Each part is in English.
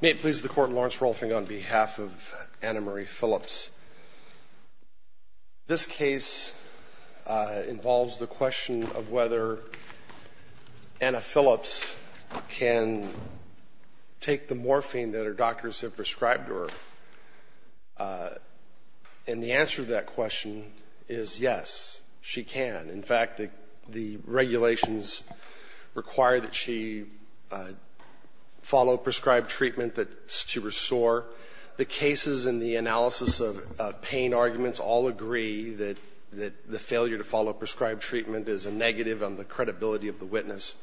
May it please the court, Lawrence Rolfing on behalf of Anna Marie Phillips. This case involves the question of whether Anna Phillips can take the morphine that her doctors have prescribed to her, and the answer to that question is yes, she can. In fact, the regulations require that she follow prescribed treatment to restore. The cases in the analysis of pain arguments all agree that the failure to follow prescribed treatment is a negative on the credibility of the witness.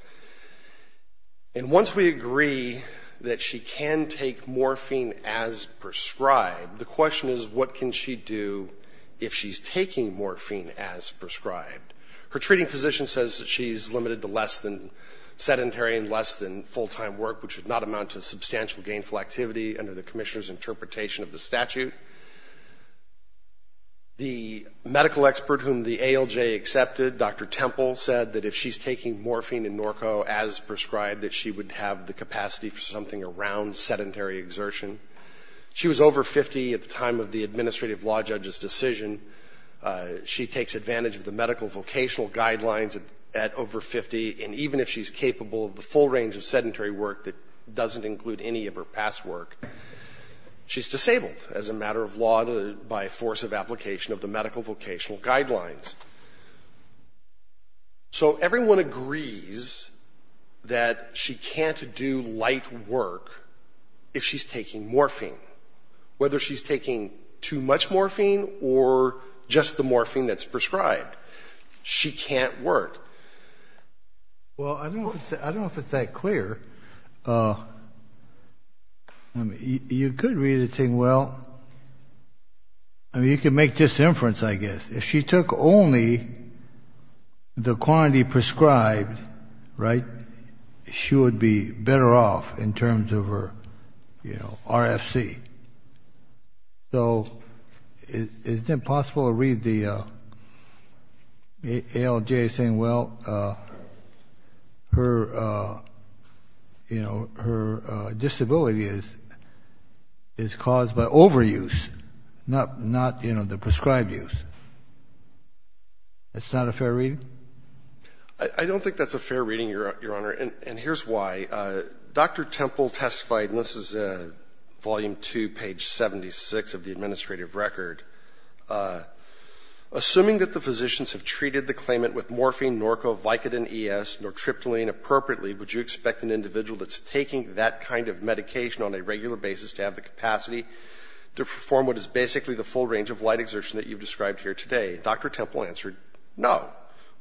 And once we agree that she can take morphine as prescribed, the question is what can she do if she's taking morphine as prescribed. Her treating physician says that she's limited to less than sedentary and less than full-time work, which would not amount to substantial gainful activity under the commissioner's interpretation of the statute. The medical expert whom the ALJ accepted, Dr. Temple, said that if she's taking morphine and Norco as prescribed, that she would have the capacity for something around sedentary exertion. She was over 50 at the time of the administrative law judge's decision. She takes advantage of the medical vocational guidelines at over 50, and even if she's capable of the full range of sedentary work that doesn't include any of her past work, she's disabled as a matter of law by force of application of the medical vocational guidelines. So everyone agrees that she can't do light work if she's taking morphine, whether she's taking too much morphine or just the morphine that's prescribed. She can't work. Well, I don't know if it's that clear. You could read it saying, well, I mean, you could make this inference, I guess. If she took only the quantity prescribed, right, she would be better off in terms of her, you know, RFC. So is it possible to read the ALJ saying, well, her, you know, her disability is caused by overuse, not, you know, the prescribed use? That's not a fair reading? I don't think that's a fair reading, Your Honor, and here's why. Dr. Temple testified, and this is Volume 2, page 76 of the administrative record. Assuming that the physicians have treated the claimant with morphine, Norco, Vicodin, ES, nortriptyline appropriately, would you expect an individual that's taking that kind of medication on a regular basis to have the capacity to perform what is basically the full range of light exertion that you've described here today? Dr. Temple answered, no.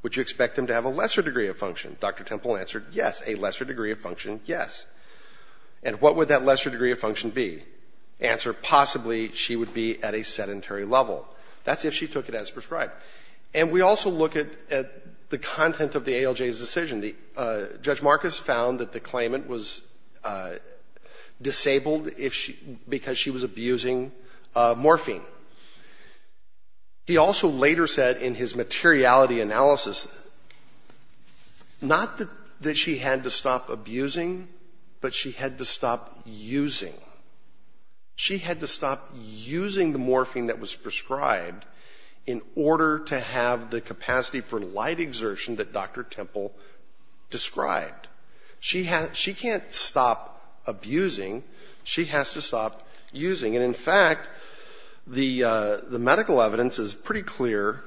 Would you expect them to have a lesser degree of function? Dr. Temple answered, yes, a lesser degree of function, yes. And what would that lesser degree of function be? Answer, possibly she would be at a sedentary level. That's if she took it as prescribed. And we also look at the content of the ALJ's decision. Judge Marcus found that the claimant was disabled because she was abusing morphine. He also later said in his materiality analysis, not that she had to stop abusing, but she had to stop using. She had to stop using the morphine that was prescribed in order to have the capacity for light exertion that Dr. Temple described. She can't stop abusing. She has to stop using. And in fact, the medical evidence is pretty clear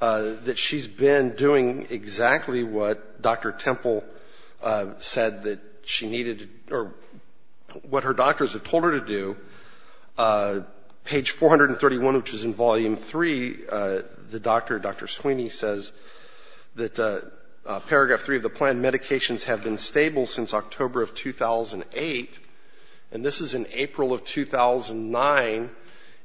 that she's been doing exactly what Dr. Temple said that she needed or what her doctors have told her to do. Page 431, which is in Volume 3, the doctor, Dr. Sweeney, says that paragraph 3 of the plan, medications have been stable since October of 2008. And this is in April of 2009.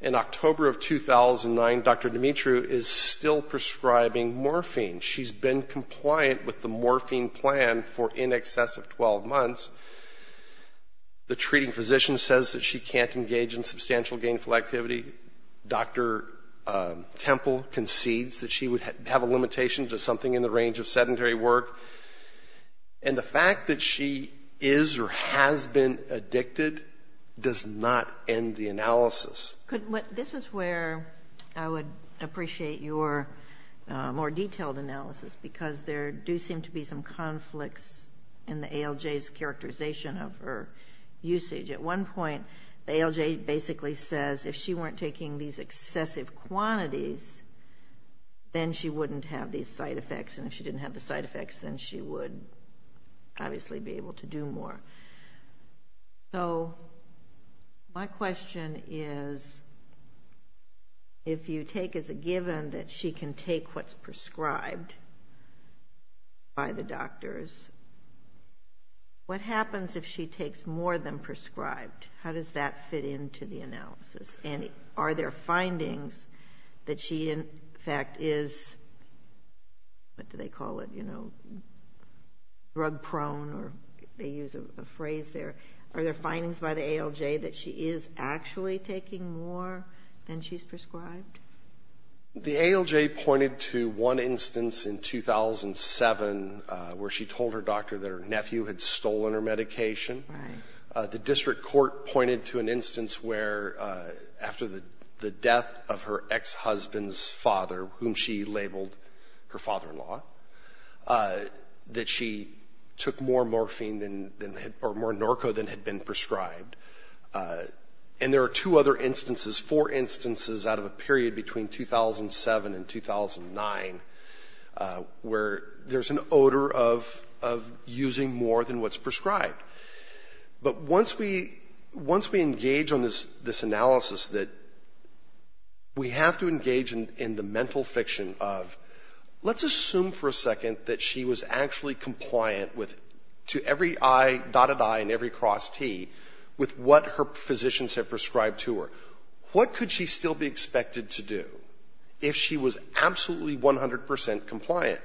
In October of 2009, Dr. Dimitriou is still prescribing morphine. She's been compliant with the morphine plan for in excess of 12 months. The treating physician says that she can't engage in substantial gainful activity. Dr. Temple concedes that she would have a limitation to something in the range of sedentary work. And the fact that she is or has been addicted does not end the analysis. This is where I would appreciate your more detailed analysis because there do seem to be some conflicts in the ALJ's characterization of her usage. At one point, the ALJ basically says if she weren't taking these excessive quantities, then she wouldn't have these side effects. And if she didn't have the side effects, then she would obviously be able to do more. So my question is, if you take as a given that she can take what's prescribed by the doctors, what happens if she takes more than prescribed? How does that fit into the analysis? And are there findings that she in fact is, what do they call it, you know, drug prone or they use a phrase there. Are there findings by the ALJ that she is actually taking more than she's prescribed? The ALJ pointed to one instance in 2007 where she told her doctor that her nephew had stolen her medication. The district court pointed to an instance where after the death of her ex-husband's father, whom she labeled her father-in-law, that she took more morphine or more Norco than had been prescribed. And there are two other instances, four instances out of a period between 2007 and 2009, where there's an odor of using more than what's prescribed. But once we engage on this analysis that we have to engage in the mental fiction of, let's assume for a second that she was actually compliant to every dotted I and every cross T with what her physicians had prescribed to her. What could she still be expected to do if she was absolutely 100 percent compliant?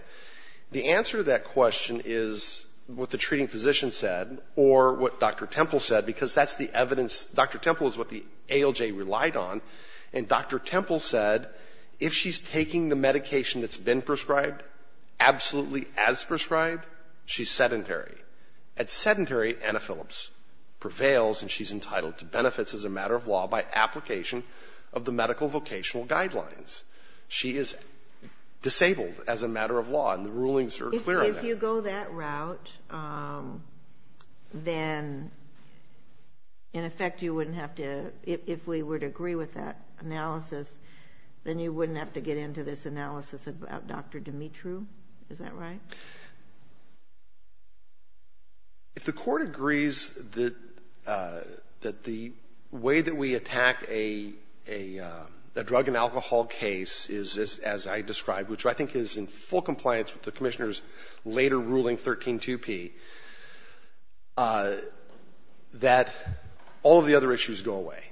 The answer to that question is what the treating physician said or what Dr. Temple said, because that's the evidence. Dr. Temple is what the ALJ relied on. And Dr. Temple said if she's taking the medication that's been prescribed, absolutely as prescribed, she's sedentary. At sedentary, Anna Phillips prevails and she's entitled to benefits as a matter of law by application of the medical vocational guidelines. She is disabled as a matter of law and the rulings are clear on that. If you go that route, then in effect you wouldn't have to, if we would agree with that analysis, then you wouldn't have to get into this analysis about Dr. Dimitri, is that right? If the Court agrees that the way that we attack a drug and alcohol case is, as I described, which I think is in full compliance with the Commissioner's later ruling, 132P, that all of the other issues go away.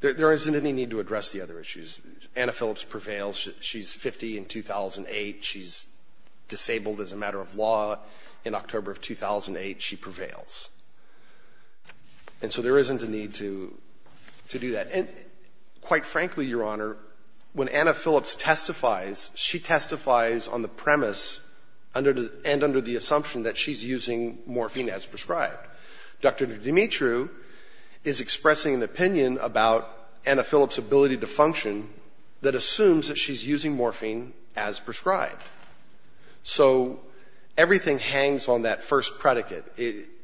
There isn't any need to address the other issues. Anna Phillips prevails. She's 50 in 2008. She's disabled as a matter of law. In October of 2008, she prevails. And so there isn't a need to do that. And quite frankly, Your Honor, when Anna Phillips testifies, she testifies on the premise and under the assumption that she's using morphine as prescribed. Dr. Dimitri is expressing an opinion about Anna Phillips' ability to function that assumes that she's using morphine as prescribed. So everything hangs on that first predicate.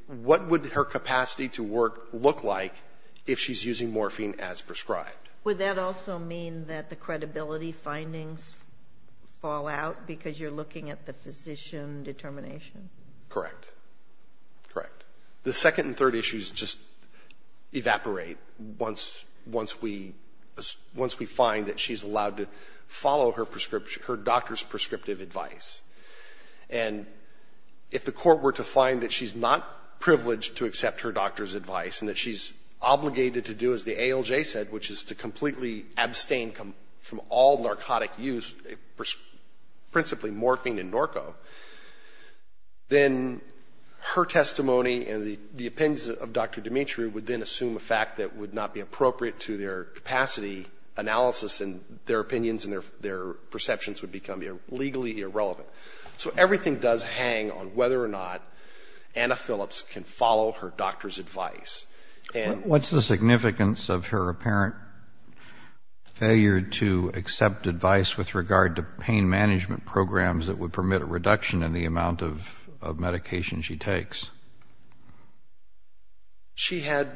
What would her capacity to work look like if she's using morphine as prescribed? Would that also mean that the credibility findings fall out because you're looking at the physician determination? Correct. Correct. The second and third issues just evaporate once we find that she's allowed to follow her doctor's prescriptive advice. And if the court were to find that she's not privileged to accept her doctor's advice and that she's obligated to do as the ALJ said, which is to completely abstain from all narcotic use, principally morphine and Norco, then her testimony and the opinions of Dr. Dimitri would then assume a fact that would not be appropriate to their capacity analysis and their opinions and their perceptions would become legally irrelevant. So everything does hang on whether or not Anna Phillips can follow her doctor's advice. What's the significance of her apparent failure to accept advice with regard to pain management programs that would permit a reduction in the amount of medication she takes? She had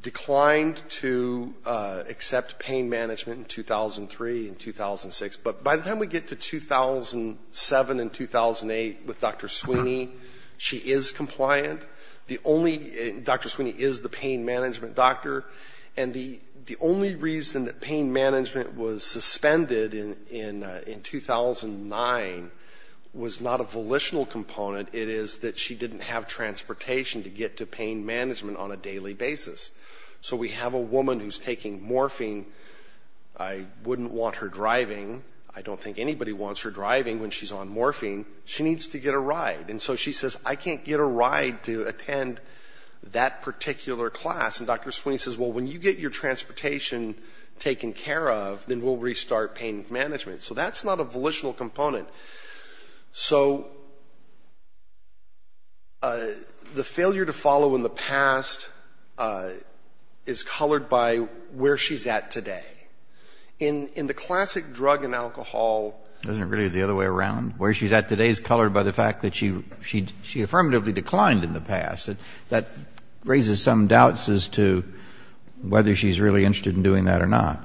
declined to accept pain management in 2003 and 2006. But by the time we get to 2007 and 2008 with Dr. Sweeney, she is compliant. The only Dr. Sweeney is the pain management doctor. And the only reason that pain management was suspended in 2009 was not a volitional component. It is that she didn't have transportation to get to pain management on a daily basis. So we have a woman who's taking morphine. I wouldn't want her driving. I don't think anybody wants her driving when she's on morphine. She needs to get a ride. And so she says, I can't get a ride to attend that particular class. And Dr. Sweeney says, well, when you get your transportation taken care of, then we'll restart pain management. So that's not a volitional component. So the failure to follow in the past is colored by where she's at today. In the classic drug and alcohol — It wasn't really the other way around. Where she's at today is colored by the fact that she affirmatively declined in the past. That raises some doubts as to whether she's really interested in doing that or not.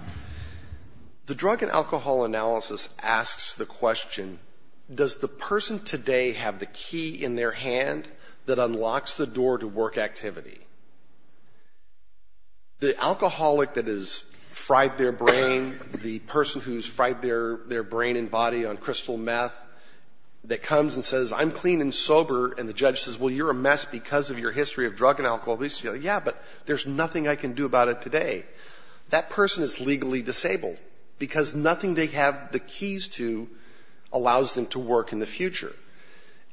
The drug and alcohol analysis asks the question, does the person today have the key in their hand that unlocks the door to work activity? The alcoholic that has fried their brain, the person who's fried their brain and body on crystal meth, that comes and says, I'm clean and sober, and the judge says, well, you're a mess because of your history of drug and alcohol abuse. Yeah, but there's nothing I can do about it today. That person is legally disabled because nothing they have the keys to allows them to work in the future.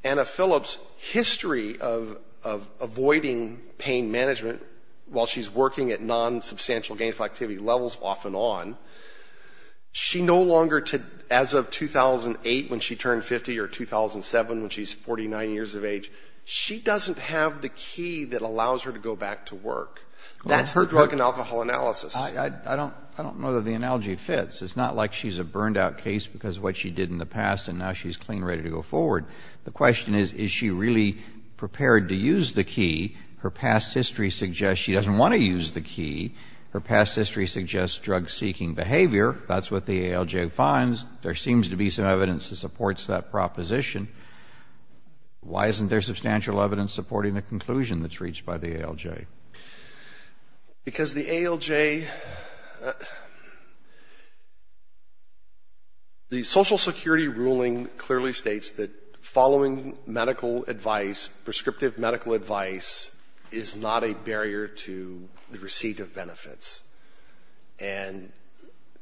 Anna Phillips' history of avoiding pain management while she's working at non-substantial gainful activity levels off and on, she no longer, as of 2008 when she turned 50 or 2007 when she's 49 years of age, she doesn't have the key that allows her to go back to work. That's her drug and alcohol analysis. I don't know that the analogy fits. It's not like she's a burned-out case because of what she did in the past, and now she's clean and ready to go forward. The question is, is she really prepared to use the key? Her past history suggests she doesn't want to use the key. Her past history suggests drug-seeking behavior. That's what the ALJ finds. There seems to be some evidence that supports that proposition. Why isn't there substantial evidence supporting the conclusion that's reached by the ALJ? Because the ALJ, the Social Security ruling clearly states that following medical advice, prescriptive medical advice is not a barrier to the receipt of benefits. And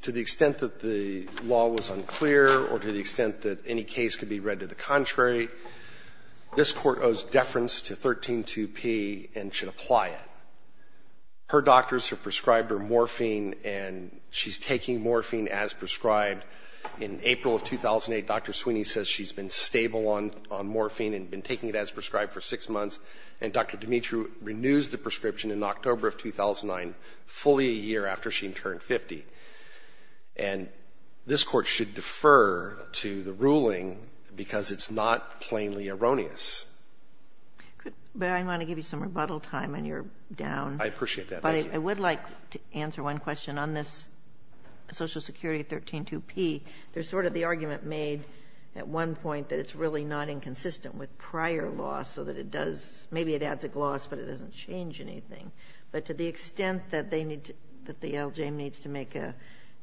to the extent that the law was unclear or to the extent that any case could be read to the contrary, this Court owes deference to 132P and should apply it. Her doctors have prescribed her morphine, and she's taking morphine as prescribed. In April of 2008, Dr. Sweeney says she's been stable on morphine and been taking it as prescribed for six months. And Dr. Dimitri renews the prescription in October of 2009, fully a year after she turned 50. And this Court should defer to the ruling because it's not plainly erroneous. But I want to give you some rebuttal time when you're down. I appreciate that. But I would like to answer one question on this Social Security 132P. There's sort of the argument made at one point that it's really not inconsistent with prior law so that it does ñ maybe it adds a gloss, but it doesn't change anything. But to the extent that they need to ñ that the LJM needs to make an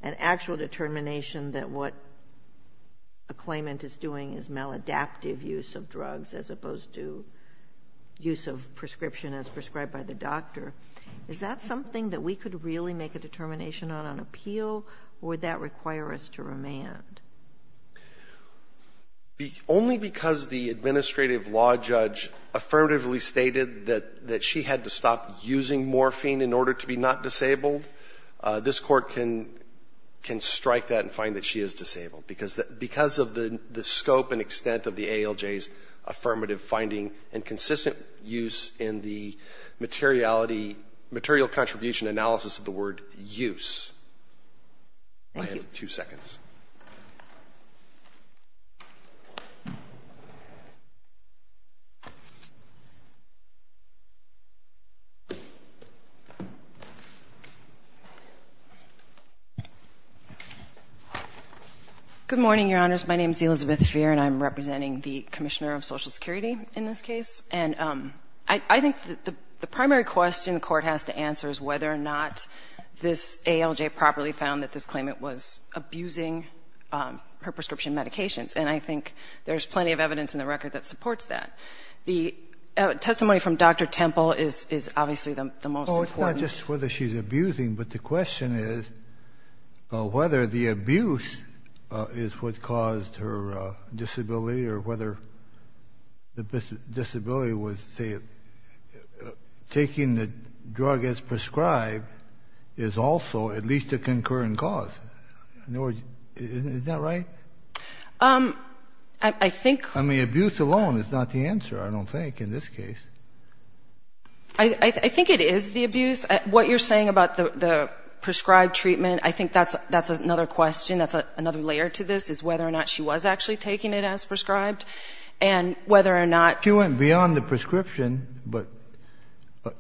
actual determination that what a claimant is doing is maladaptive use of drugs as opposed to use of prescription as prescribed by the doctor, is that something that we could really make a determination on on appeal, or would that require us to remand? Only because the administrative law judge affirmatively stated that she had to stop using morphine in order to be not disabled, this Court can strike that and find that she is disabled, because of the scope and extent of the ALJ's affirmative finding and consistent use in the materiality, material contribution analysis of the word use. Go ahead. MS. FEHR. Good morning, Your Honors. My name is Elizabeth Fehr, and I'm representing the Commissioner of Social Security in this case. And I think that the primary question the Court has to answer is whether or not this ALJ properly found that this claimant was abusing her prescription medications. And I think there's plenty of evidence in the record that supports that. The testimony from Dr. Temple is obviously the most important. TEMPLE. Well, it's not just whether she's abusing, but the question is whether the abuse is what caused her disability or whether the disability was, say, taking the drug as prescribed is also at least a concurrent cause. Is that right? MS. FEHR. I think — TEMPLE. I mean, abuse alone is not the answer, I don't think, in this case. MS. FEHR. I think it is the abuse. What you're saying about the prescribed treatment, I think that's another question, that's another layer to this, is whether or not she was actually taking it as prescribed and whether or not — TEMPLE. Well, the doctor went beyond the prescription, but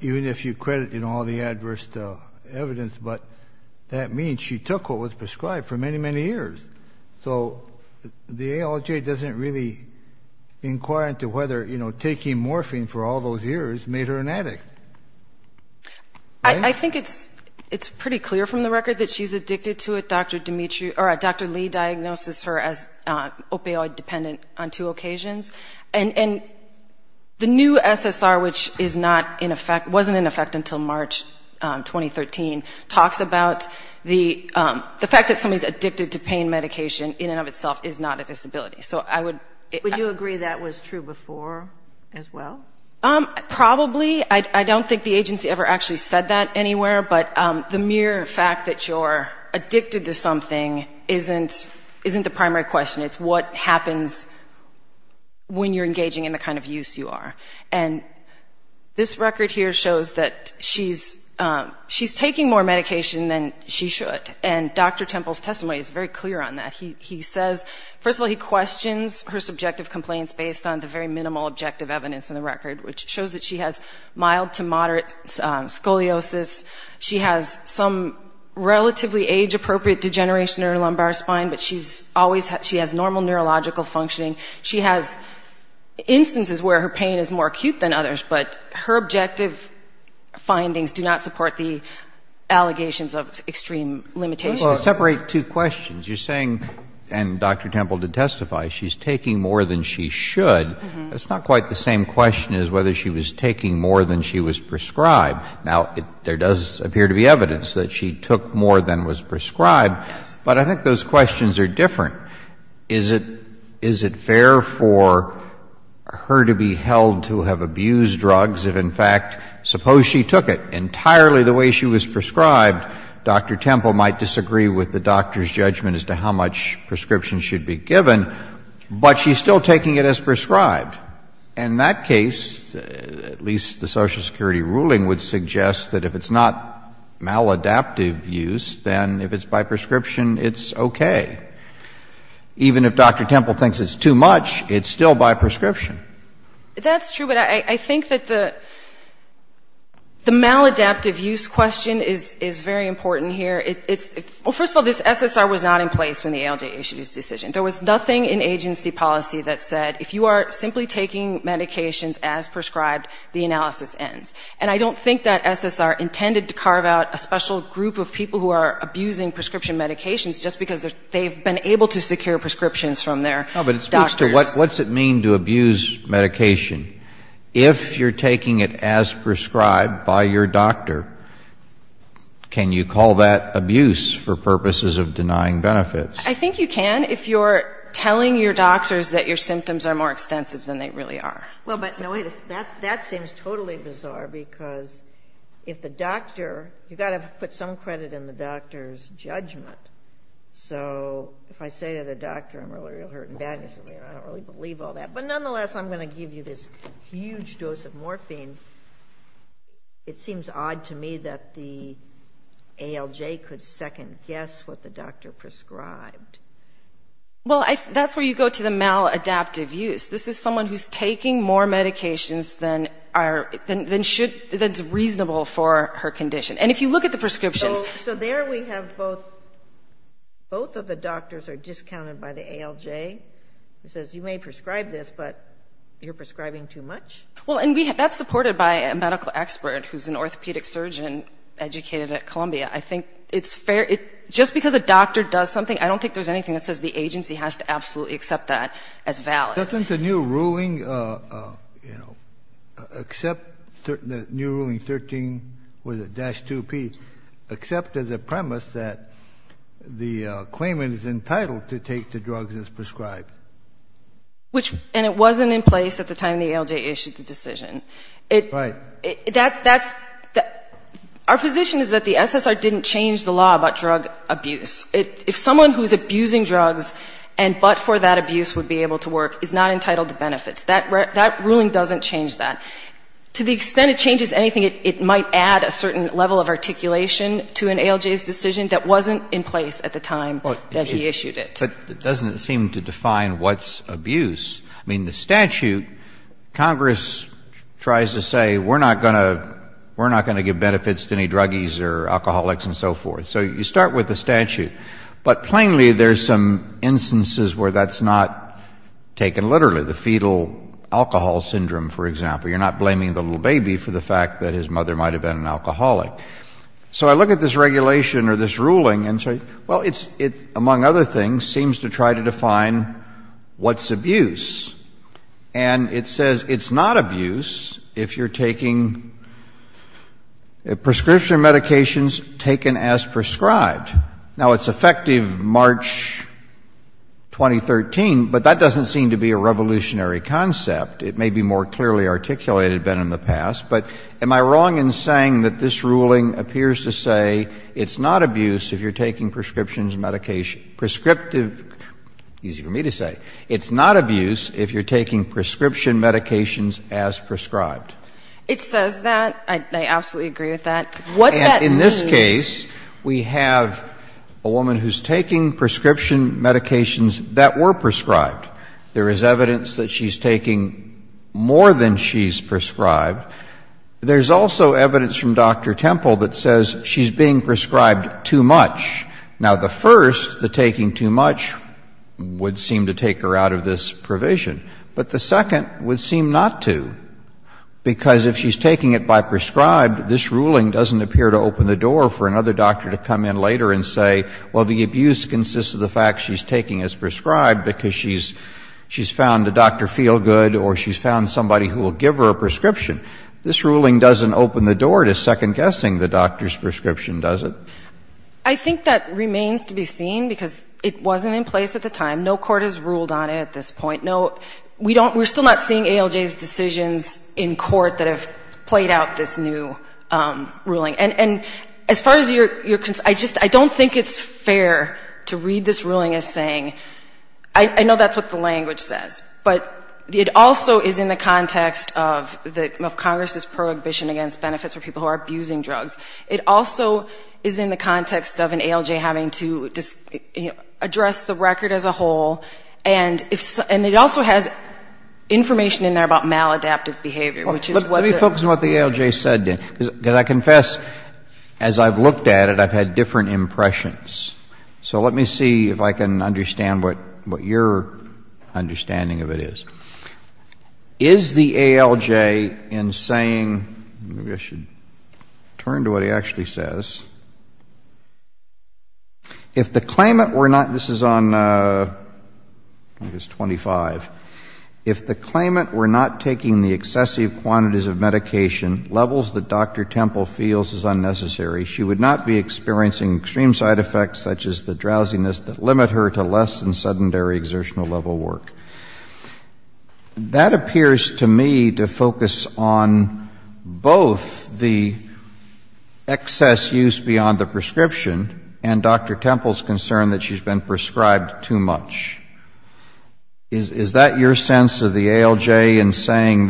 even if you credit in all the adverse evidence, but that means she took what was prescribed for many, many years. So the ALJ doesn't really inquire into whether, you know, taking morphine for all those years Right? MS. FEHR. I think it's pretty clear from the record that she's addicted to it. Dr. Lee diagnoses her as opioid-dependent on two occasions. And the new SSR, which is not in effect, wasn't in effect until March 2013, talks about the fact that somebody's addicted to pain medication in and of itself is not a disability. So I would — MS. FEHR. Would you agree that was true before as well? MS. TEMPLE. Probably. I don't think the agency ever actually said that anywhere, but the mere fact that you're addicted to something isn't the primary question. It's what happens when you're engaging in the kind of use you are. And this record here shows that she's taking more medication than she should. And Dr. Temple's testimony is very clear on that. He says — first of all, he questions her subjective complaints based on the very minimal objective evidence in the record, which shows that she has mild to moderate scoliosis. She has some relatively age-appropriate degeneration in her lumbar spine, but she's always — she has normal neurological functioning. She has instances where her pain is more acute than others, but her objective findings do not support the allegations of extreme limitations. DR. WARREN. Well, separate two questions. You're saying — and Dr. Temple did testify — she's taking more than she should. That's not quite the same question as whether she was taking more than she was prescribed. Now, there does appear to be evidence that she took more than was prescribed. But I think those questions are different. Is it — is it fair for her to be held to have abused drugs if, in fact, suppose she took it entirely the way she was prescribed? Dr. Temple might disagree with the doctor's judgment as to how much prescription should be given, but she's still taking it as prescribed. In that case, at least the Social Security ruling would suggest that if it's not maladaptive use, then if it's by prescription, it's okay. Even if Dr. Temple thinks it's too much, it's still by prescription. MS. TEMPLE-RASTON. That's true, but I think that the — the maladaptive use question is — is very important here. It's — well, first of all, this SSR was not in place when the ALJ issued its decision. There was nothing in agency policy that said if you are simply taking medications as prescribed, the analysis ends. And I don't think that SSR intended to carve out a special group of people who are abusing prescription medications just because they've been able to secure prescriptions from their doctors. JUSTICE KENNEDY. No, but it speaks to what — what's it mean to abuse medication if you're taking it as prescribed by your doctor? Can you call that abuse for purposes of denying benefits? TEMPLE-RASTON. I think you can if you're telling your doctors that your symptoms are more extensive than they really are. JUSTICE GINSBURG. Well, but, no, that seems totally bizarre because if the doctor — you've got to put some credit in the doctor's judgment. So if I say to the doctor, I'm really, really hurting badly, I don't really believe all that. But nonetheless, I'm going to give you this huge dose of morphine. It seems odd to me that the ALJ could second-guess what the doctor prescribed. TEMPLE-RASTON. Well, that's where you go to the maladaptive use. This is someone who's taking more medications than are — than should — than's reasonable for her condition. And if you look at the prescriptions — JUSTICE GINSBURG. So there we have both — both of the doctors are discounted by the ALJ, who says, TEMPLE-RASTON. JUSTICE GINSBURG. Well, and we — that's supported by a medical expert who's an orthopedic surgeon educated at Columbia. I think it's fair — just because a doctor does something, I don't think there's anything that says the agency has to absolutely accept that as valid. JUSTICE SCALIA. Doesn't the new ruling, you know, accept — the new ruling 13 with a dash 2P, accept as a premise that the claimant is entitled to take the drugs as prescribed? TEMPLE-RASTON. Which — and it wasn't in place at the time the ALJ issued the decision. JUSTICE SCALIA. Right. TEMPLE-RASTON. That's — our position is that the SSR didn't change the law about drug abuse. If someone who's abusing drugs and but for that abuse would be able to work is not entitled to benefits. That ruling doesn't change that. To the extent it changes anything, it might add a certain level of articulation to an ALJ's decision that wasn't in place at the time that he issued it. It doesn't seem to define what's abuse. I mean, the statute, Congress tries to say we're not going to give benefits to any druggies or alcoholics and so forth. So you start with the statute. But plainly, there's some instances where that's not taken literally. The fetal alcohol syndrome, for example. You're not blaming the little baby for the fact that his mother might have been an alcoholic. So I look at this regulation or this ruling and say, well, it's — among other things, it seems to try to define what's abuse. And it says it's not abuse if you're taking prescription medications taken as prescribed. Now, it's effective March 2013, but that doesn't seem to be a revolutionary concept. It may be more clearly articulated than in the past. But am I wrong in saying that this ruling appears to say it's not abuse if you're taking prescription medication — prescriptive — easy for me to say. It's not abuse if you're taking prescription medications as prescribed. It says that. I absolutely agree with that. What that means — And in this case, we have a woman who's taking prescription medications that were prescribed. There is evidence that she's taking more than she's prescribed. There's also evidence from Dr. Temple that says she's being prescribed too much. Now, the first, the taking too much, would seem to take her out of this provision. But the second would seem not to, because if she's taking it by prescribed, this ruling doesn't appear to open the door for another doctor to come in later and say, well, the abuse consists of the fact she's taking as prescribed because she's found a doctor feel good or she's found somebody who will give her a prescription. This ruling doesn't open the door to second-guessing the doctor's prescription, does it? I think that remains to be seen because it wasn't in place at the time. No court has ruled on it at this point. No, we don't — we're still not seeing ALJ's decisions in court that have played out this new ruling. And as far as your — I just — I don't think it's fair to read this ruling as saying — I know that's what the language says. But it also is in the context of the — of Congress's prohibition against benefits for people who are abusing drugs. It also is in the context of an ALJ having to address the record as a whole. And if — and it also has information in there about maladaptive behavior, which is what the — Let me focus on what the ALJ said, then, because I confess as I've looked at it, I've had different impressions. So let me see if I can understand what your understanding of it is. Is the ALJ in saying — maybe I should turn to what he actually says. If the claimant were not — this is on — I think it's 25. If the claimant were not taking the excessive quantities of medication, levels that Dr. Temple is concerned about, the ALJ in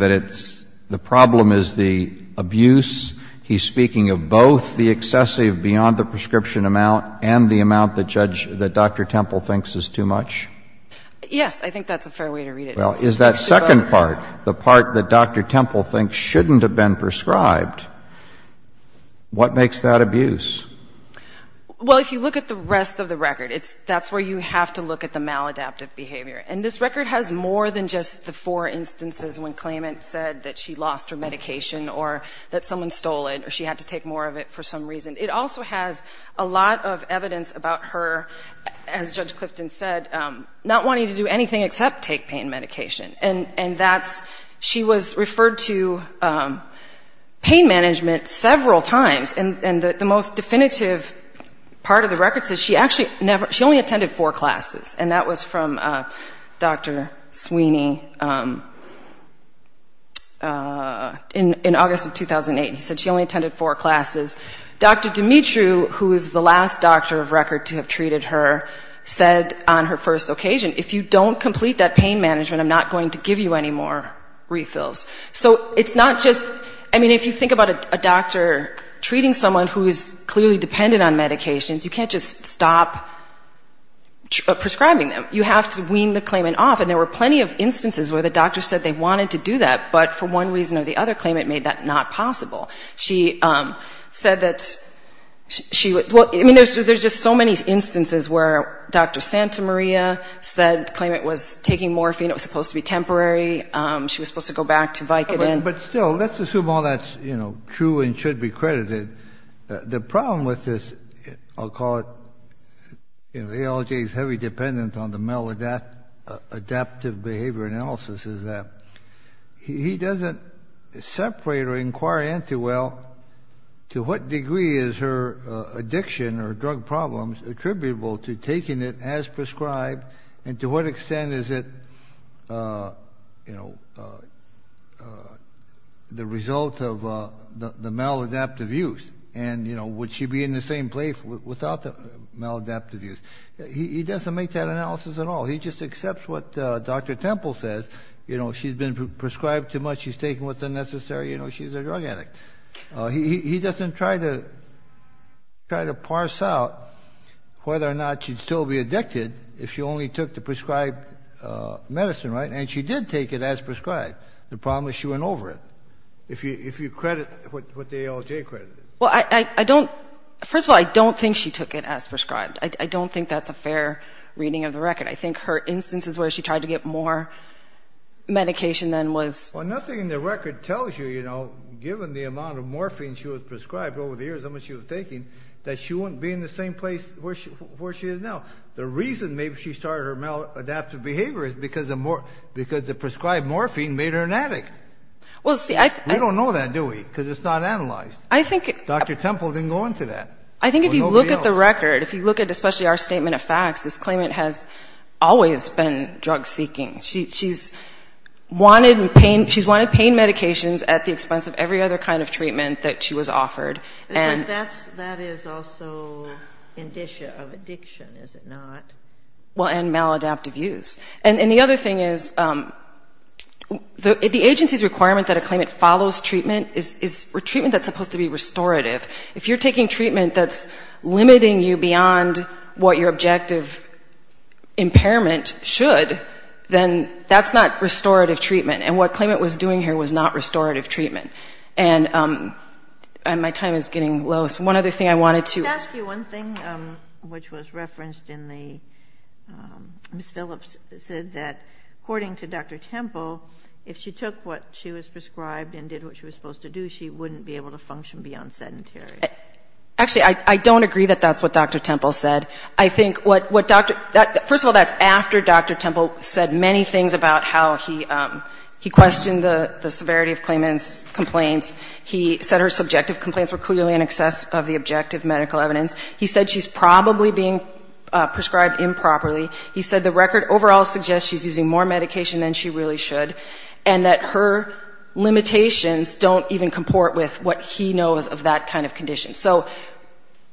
saying that it's — the problem is the abuse. He's speaking of both the excessive beyond-the-prescription amount and the excessive that Dr. Temple thinks is too much? Yes. I think that's a fair way to read it. Well, is that second part, the part that Dr. Temple thinks shouldn't have been prescribed, what makes that abuse? Well, if you look at the rest of the record, it's — that's where you have to look at the maladaptive behavior. And this record has more than just the four instances when claimants said that she lost her medication or that someone stole it or she had to take more of it for some reason. It also has a lot of evidence about her, as Judge Clifton said, not wanting to do anything except take pain medication. And that's — she was referred to pain management several times. And the most definitive part of the record says she actually never — she only attended four classes. And that was from Dr. Sweeney in August of 2008. He said she only attended four classes. Dr. Dimitri, who is the last doctor of record to have treated her, said on her first occasion, if you don't complete that pain management, I'm not going to give you any more refills. So it's not just — I mean, if you think about a doctor treating someone who is clearly dependent on medications, you can't just stop prescribing them. You have to wean the claimant off. And there were plenty of instances where the doctor said they wanted to do that, but for one reason or the other claimant made that not possible. She said that she — well, I mean, there's just so many instances where Dr. Santa Maria said — claimed it was taking morphine. It was supposed to be temporary. She was supposed to go back to Vicodin. But still, let's assume all that's, you know, true and should be credited. The problem with this — I'll call it ALJ's heavy dependence on the maladaptive behavior analysis is that he doesn't separate or inquire into, well, to what degree is her addiction or drug problems attributable to taking it as prescribed, and to what extent is it, you know, the result of the maladaptive use? And, you know, would she be in the same place without the maladaptive use? He doesn't make that analysis at all. He just accepts what Dr. Temple says. You know, she's been prescribed too much, she's taking what's unnecessary, you know, she's a drug addict. He doesn't try to parse out whether or not she'd still be addicted if she only took the prescribed medicine, right? And she did take it as prescribed. The problem is she went over it, if you credit what the ALJ credited. Well, I don't — first of all, I don't think she took it as prescribed. I don't think that's a fair reading of the record. I think her instances where she tried to get more medication than was — Well, nothing in the record tells you, you know, given the amount of morphine she was prescribed over the years, how much she was taking, that she wouldn't be in the same place where she is now. The reason maybe she started her maladaptive behavior is because the prescribed morphine made her an addict. Well, see, I — We don't know that, do we? Because it's not analyzed. I think — Dr. Temple didn't go into that. I think if you look at the record, if you look at especially our statement of facts, this claimant has always been drug-seeking. She's wanted pain — she's wanted pain medications at the expense of every other kind of treatment that she was offered. Because that's — that is also indicia of addiction, is it not? Well, and maladaptive use. And the other thing is the agency's requirement that a claimant follows treatment is treatment that's supposed to be restorative. If you're taking treatment that's limiting you beyond what your objective impairment should, then that's not restorative treatment. And what claimant was doing here was not restorative treatment. And my time is getting low. So one other thing I wanted to — Let me ask you one thing, which was referenced in the — Ms. Phillips said that, according to Dr. Temple, if she took what she was prescribed and did what she was Actually, I don't agree that that's what Dr. Temple said. I think what Dr. — first of all, that's after Dr. Temple said many things about how he questioned the severity of claimant's complaints. He said her subjective complaints were clearly in excess of the objective medical evidence. He said she's probably being prescribed improperly. He said the record overall suggests she's using more medication than she really should, and that her limitations don't even comport with what he knows of that kind of condition. So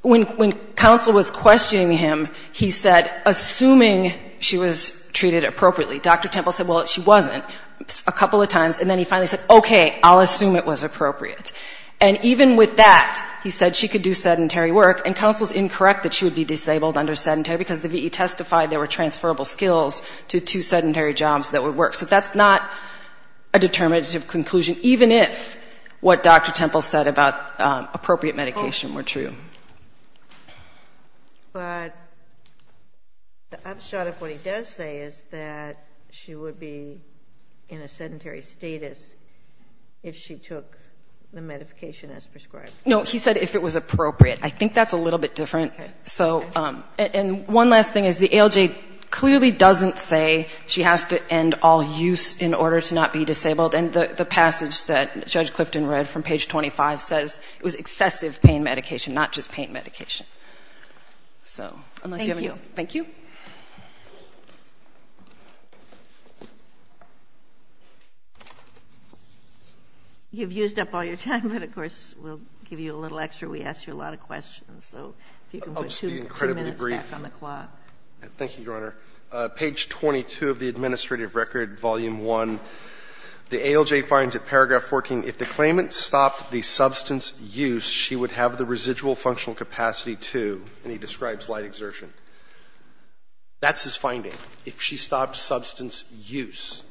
when counsel was questioning him, he said, assuming she was treated appropriately, Dr. Temple said, well, she wasn't a couple of times, and then he finally said, okay, I'll assume it was appropriate. And even with that, he said she could do sedentary work, and counsel's incorrect that she would be disabled under sedentary, because the V.E. testified there were transferable skills to two sedentary jobs that would work. So that's not a determinative conclusion, even if what Dr. Temple said about appropriate medication were true. But the upshot of what he does say is that she would be in a sedentary status if she took the medication as prescribed. No, he said if it was appropriate. I think that's a little bit different. And one last thing is the ALJ clearly doesn't say she has to end all use in order to not be disabled, and the passage that Judge Clifton read from page 25 says it was excessive pain medication, not just pain medication. Thank you. Thank you. You've used up all your time, but of course we'll give you a little extra. We asked you a lot of questions. So if you can put two minutes back on the clock. I'll just be incredibly brief. Thank you, Your Honor. Page 22 of the administrative record, volume 1, the ALJ finds at paragraph 14, if the claimant stopped the substance use, she would have the residual functional capacity to, and he describes light exertion. That's his finding, if she stopped substance use.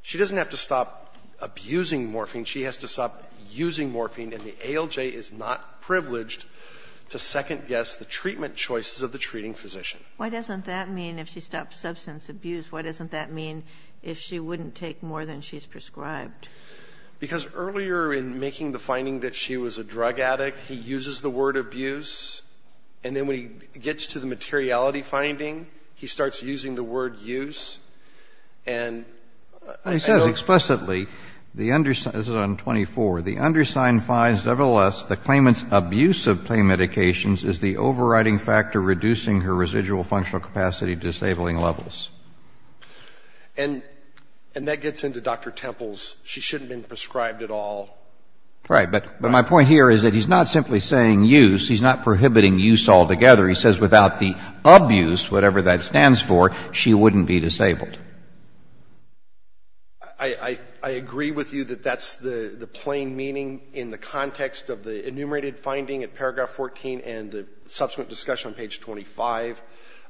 She doesn't have to stop abusing morphine. She has to stop using morphine. And the ALJ is not privileged to second guess the treatment choices of the treating physician. Why doesn't that mean if she stops substance abuse, why doesn't that mean if she wouldn't take more than she's prescribed? Because earlier in making the finding that she was a drug addict, he uses the word abuse, and then when he gets to the materiality finding, he starts using the word use, and I don't know. This is on 24. The undersigned finds nevertheless the claimant's abuse of pain medications is the overriding factor reducing her residual functional capacity disabling levels. And that gets into Dr. Temple's she shouldn't have been prescribed at all. Right. But my point here is that he's not simply saying use. He's not prohibiting use altogether. He says without the abuse, whatever that stands for, she wouldn't be disabled. I agree with you that that's the plain meaning in the context of the enumerated finding at paragraph 14 and the subsequent discussion on page 25.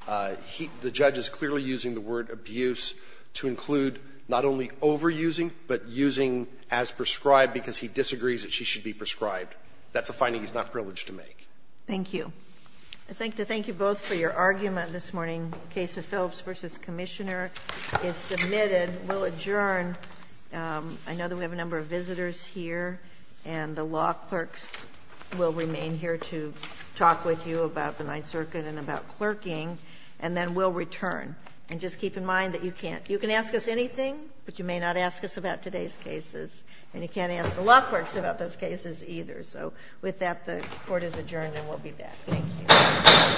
The judge is clearly using the word abuse to include not only overusing, but using as prescribed because he disagrees that she should be prescribed. That's a finding he's not privileged to make. Thank you. I'd like to thank you both for your argument this morning. Case of Phillips v. Commissioner is submitted. We'll adjourn. I know that we have a number of visitors here, and the law clerks will remain here to talk with you about the Ninth Circuit and about clerking, and then we'll return. And just keep in mind that you can't ask us anything, but you may not ask us about today's cases, and you can't ask the law clerks about those cases either. So with that, the Court is adjourned, and we'll be back. Thank you. Thank you. Thank you.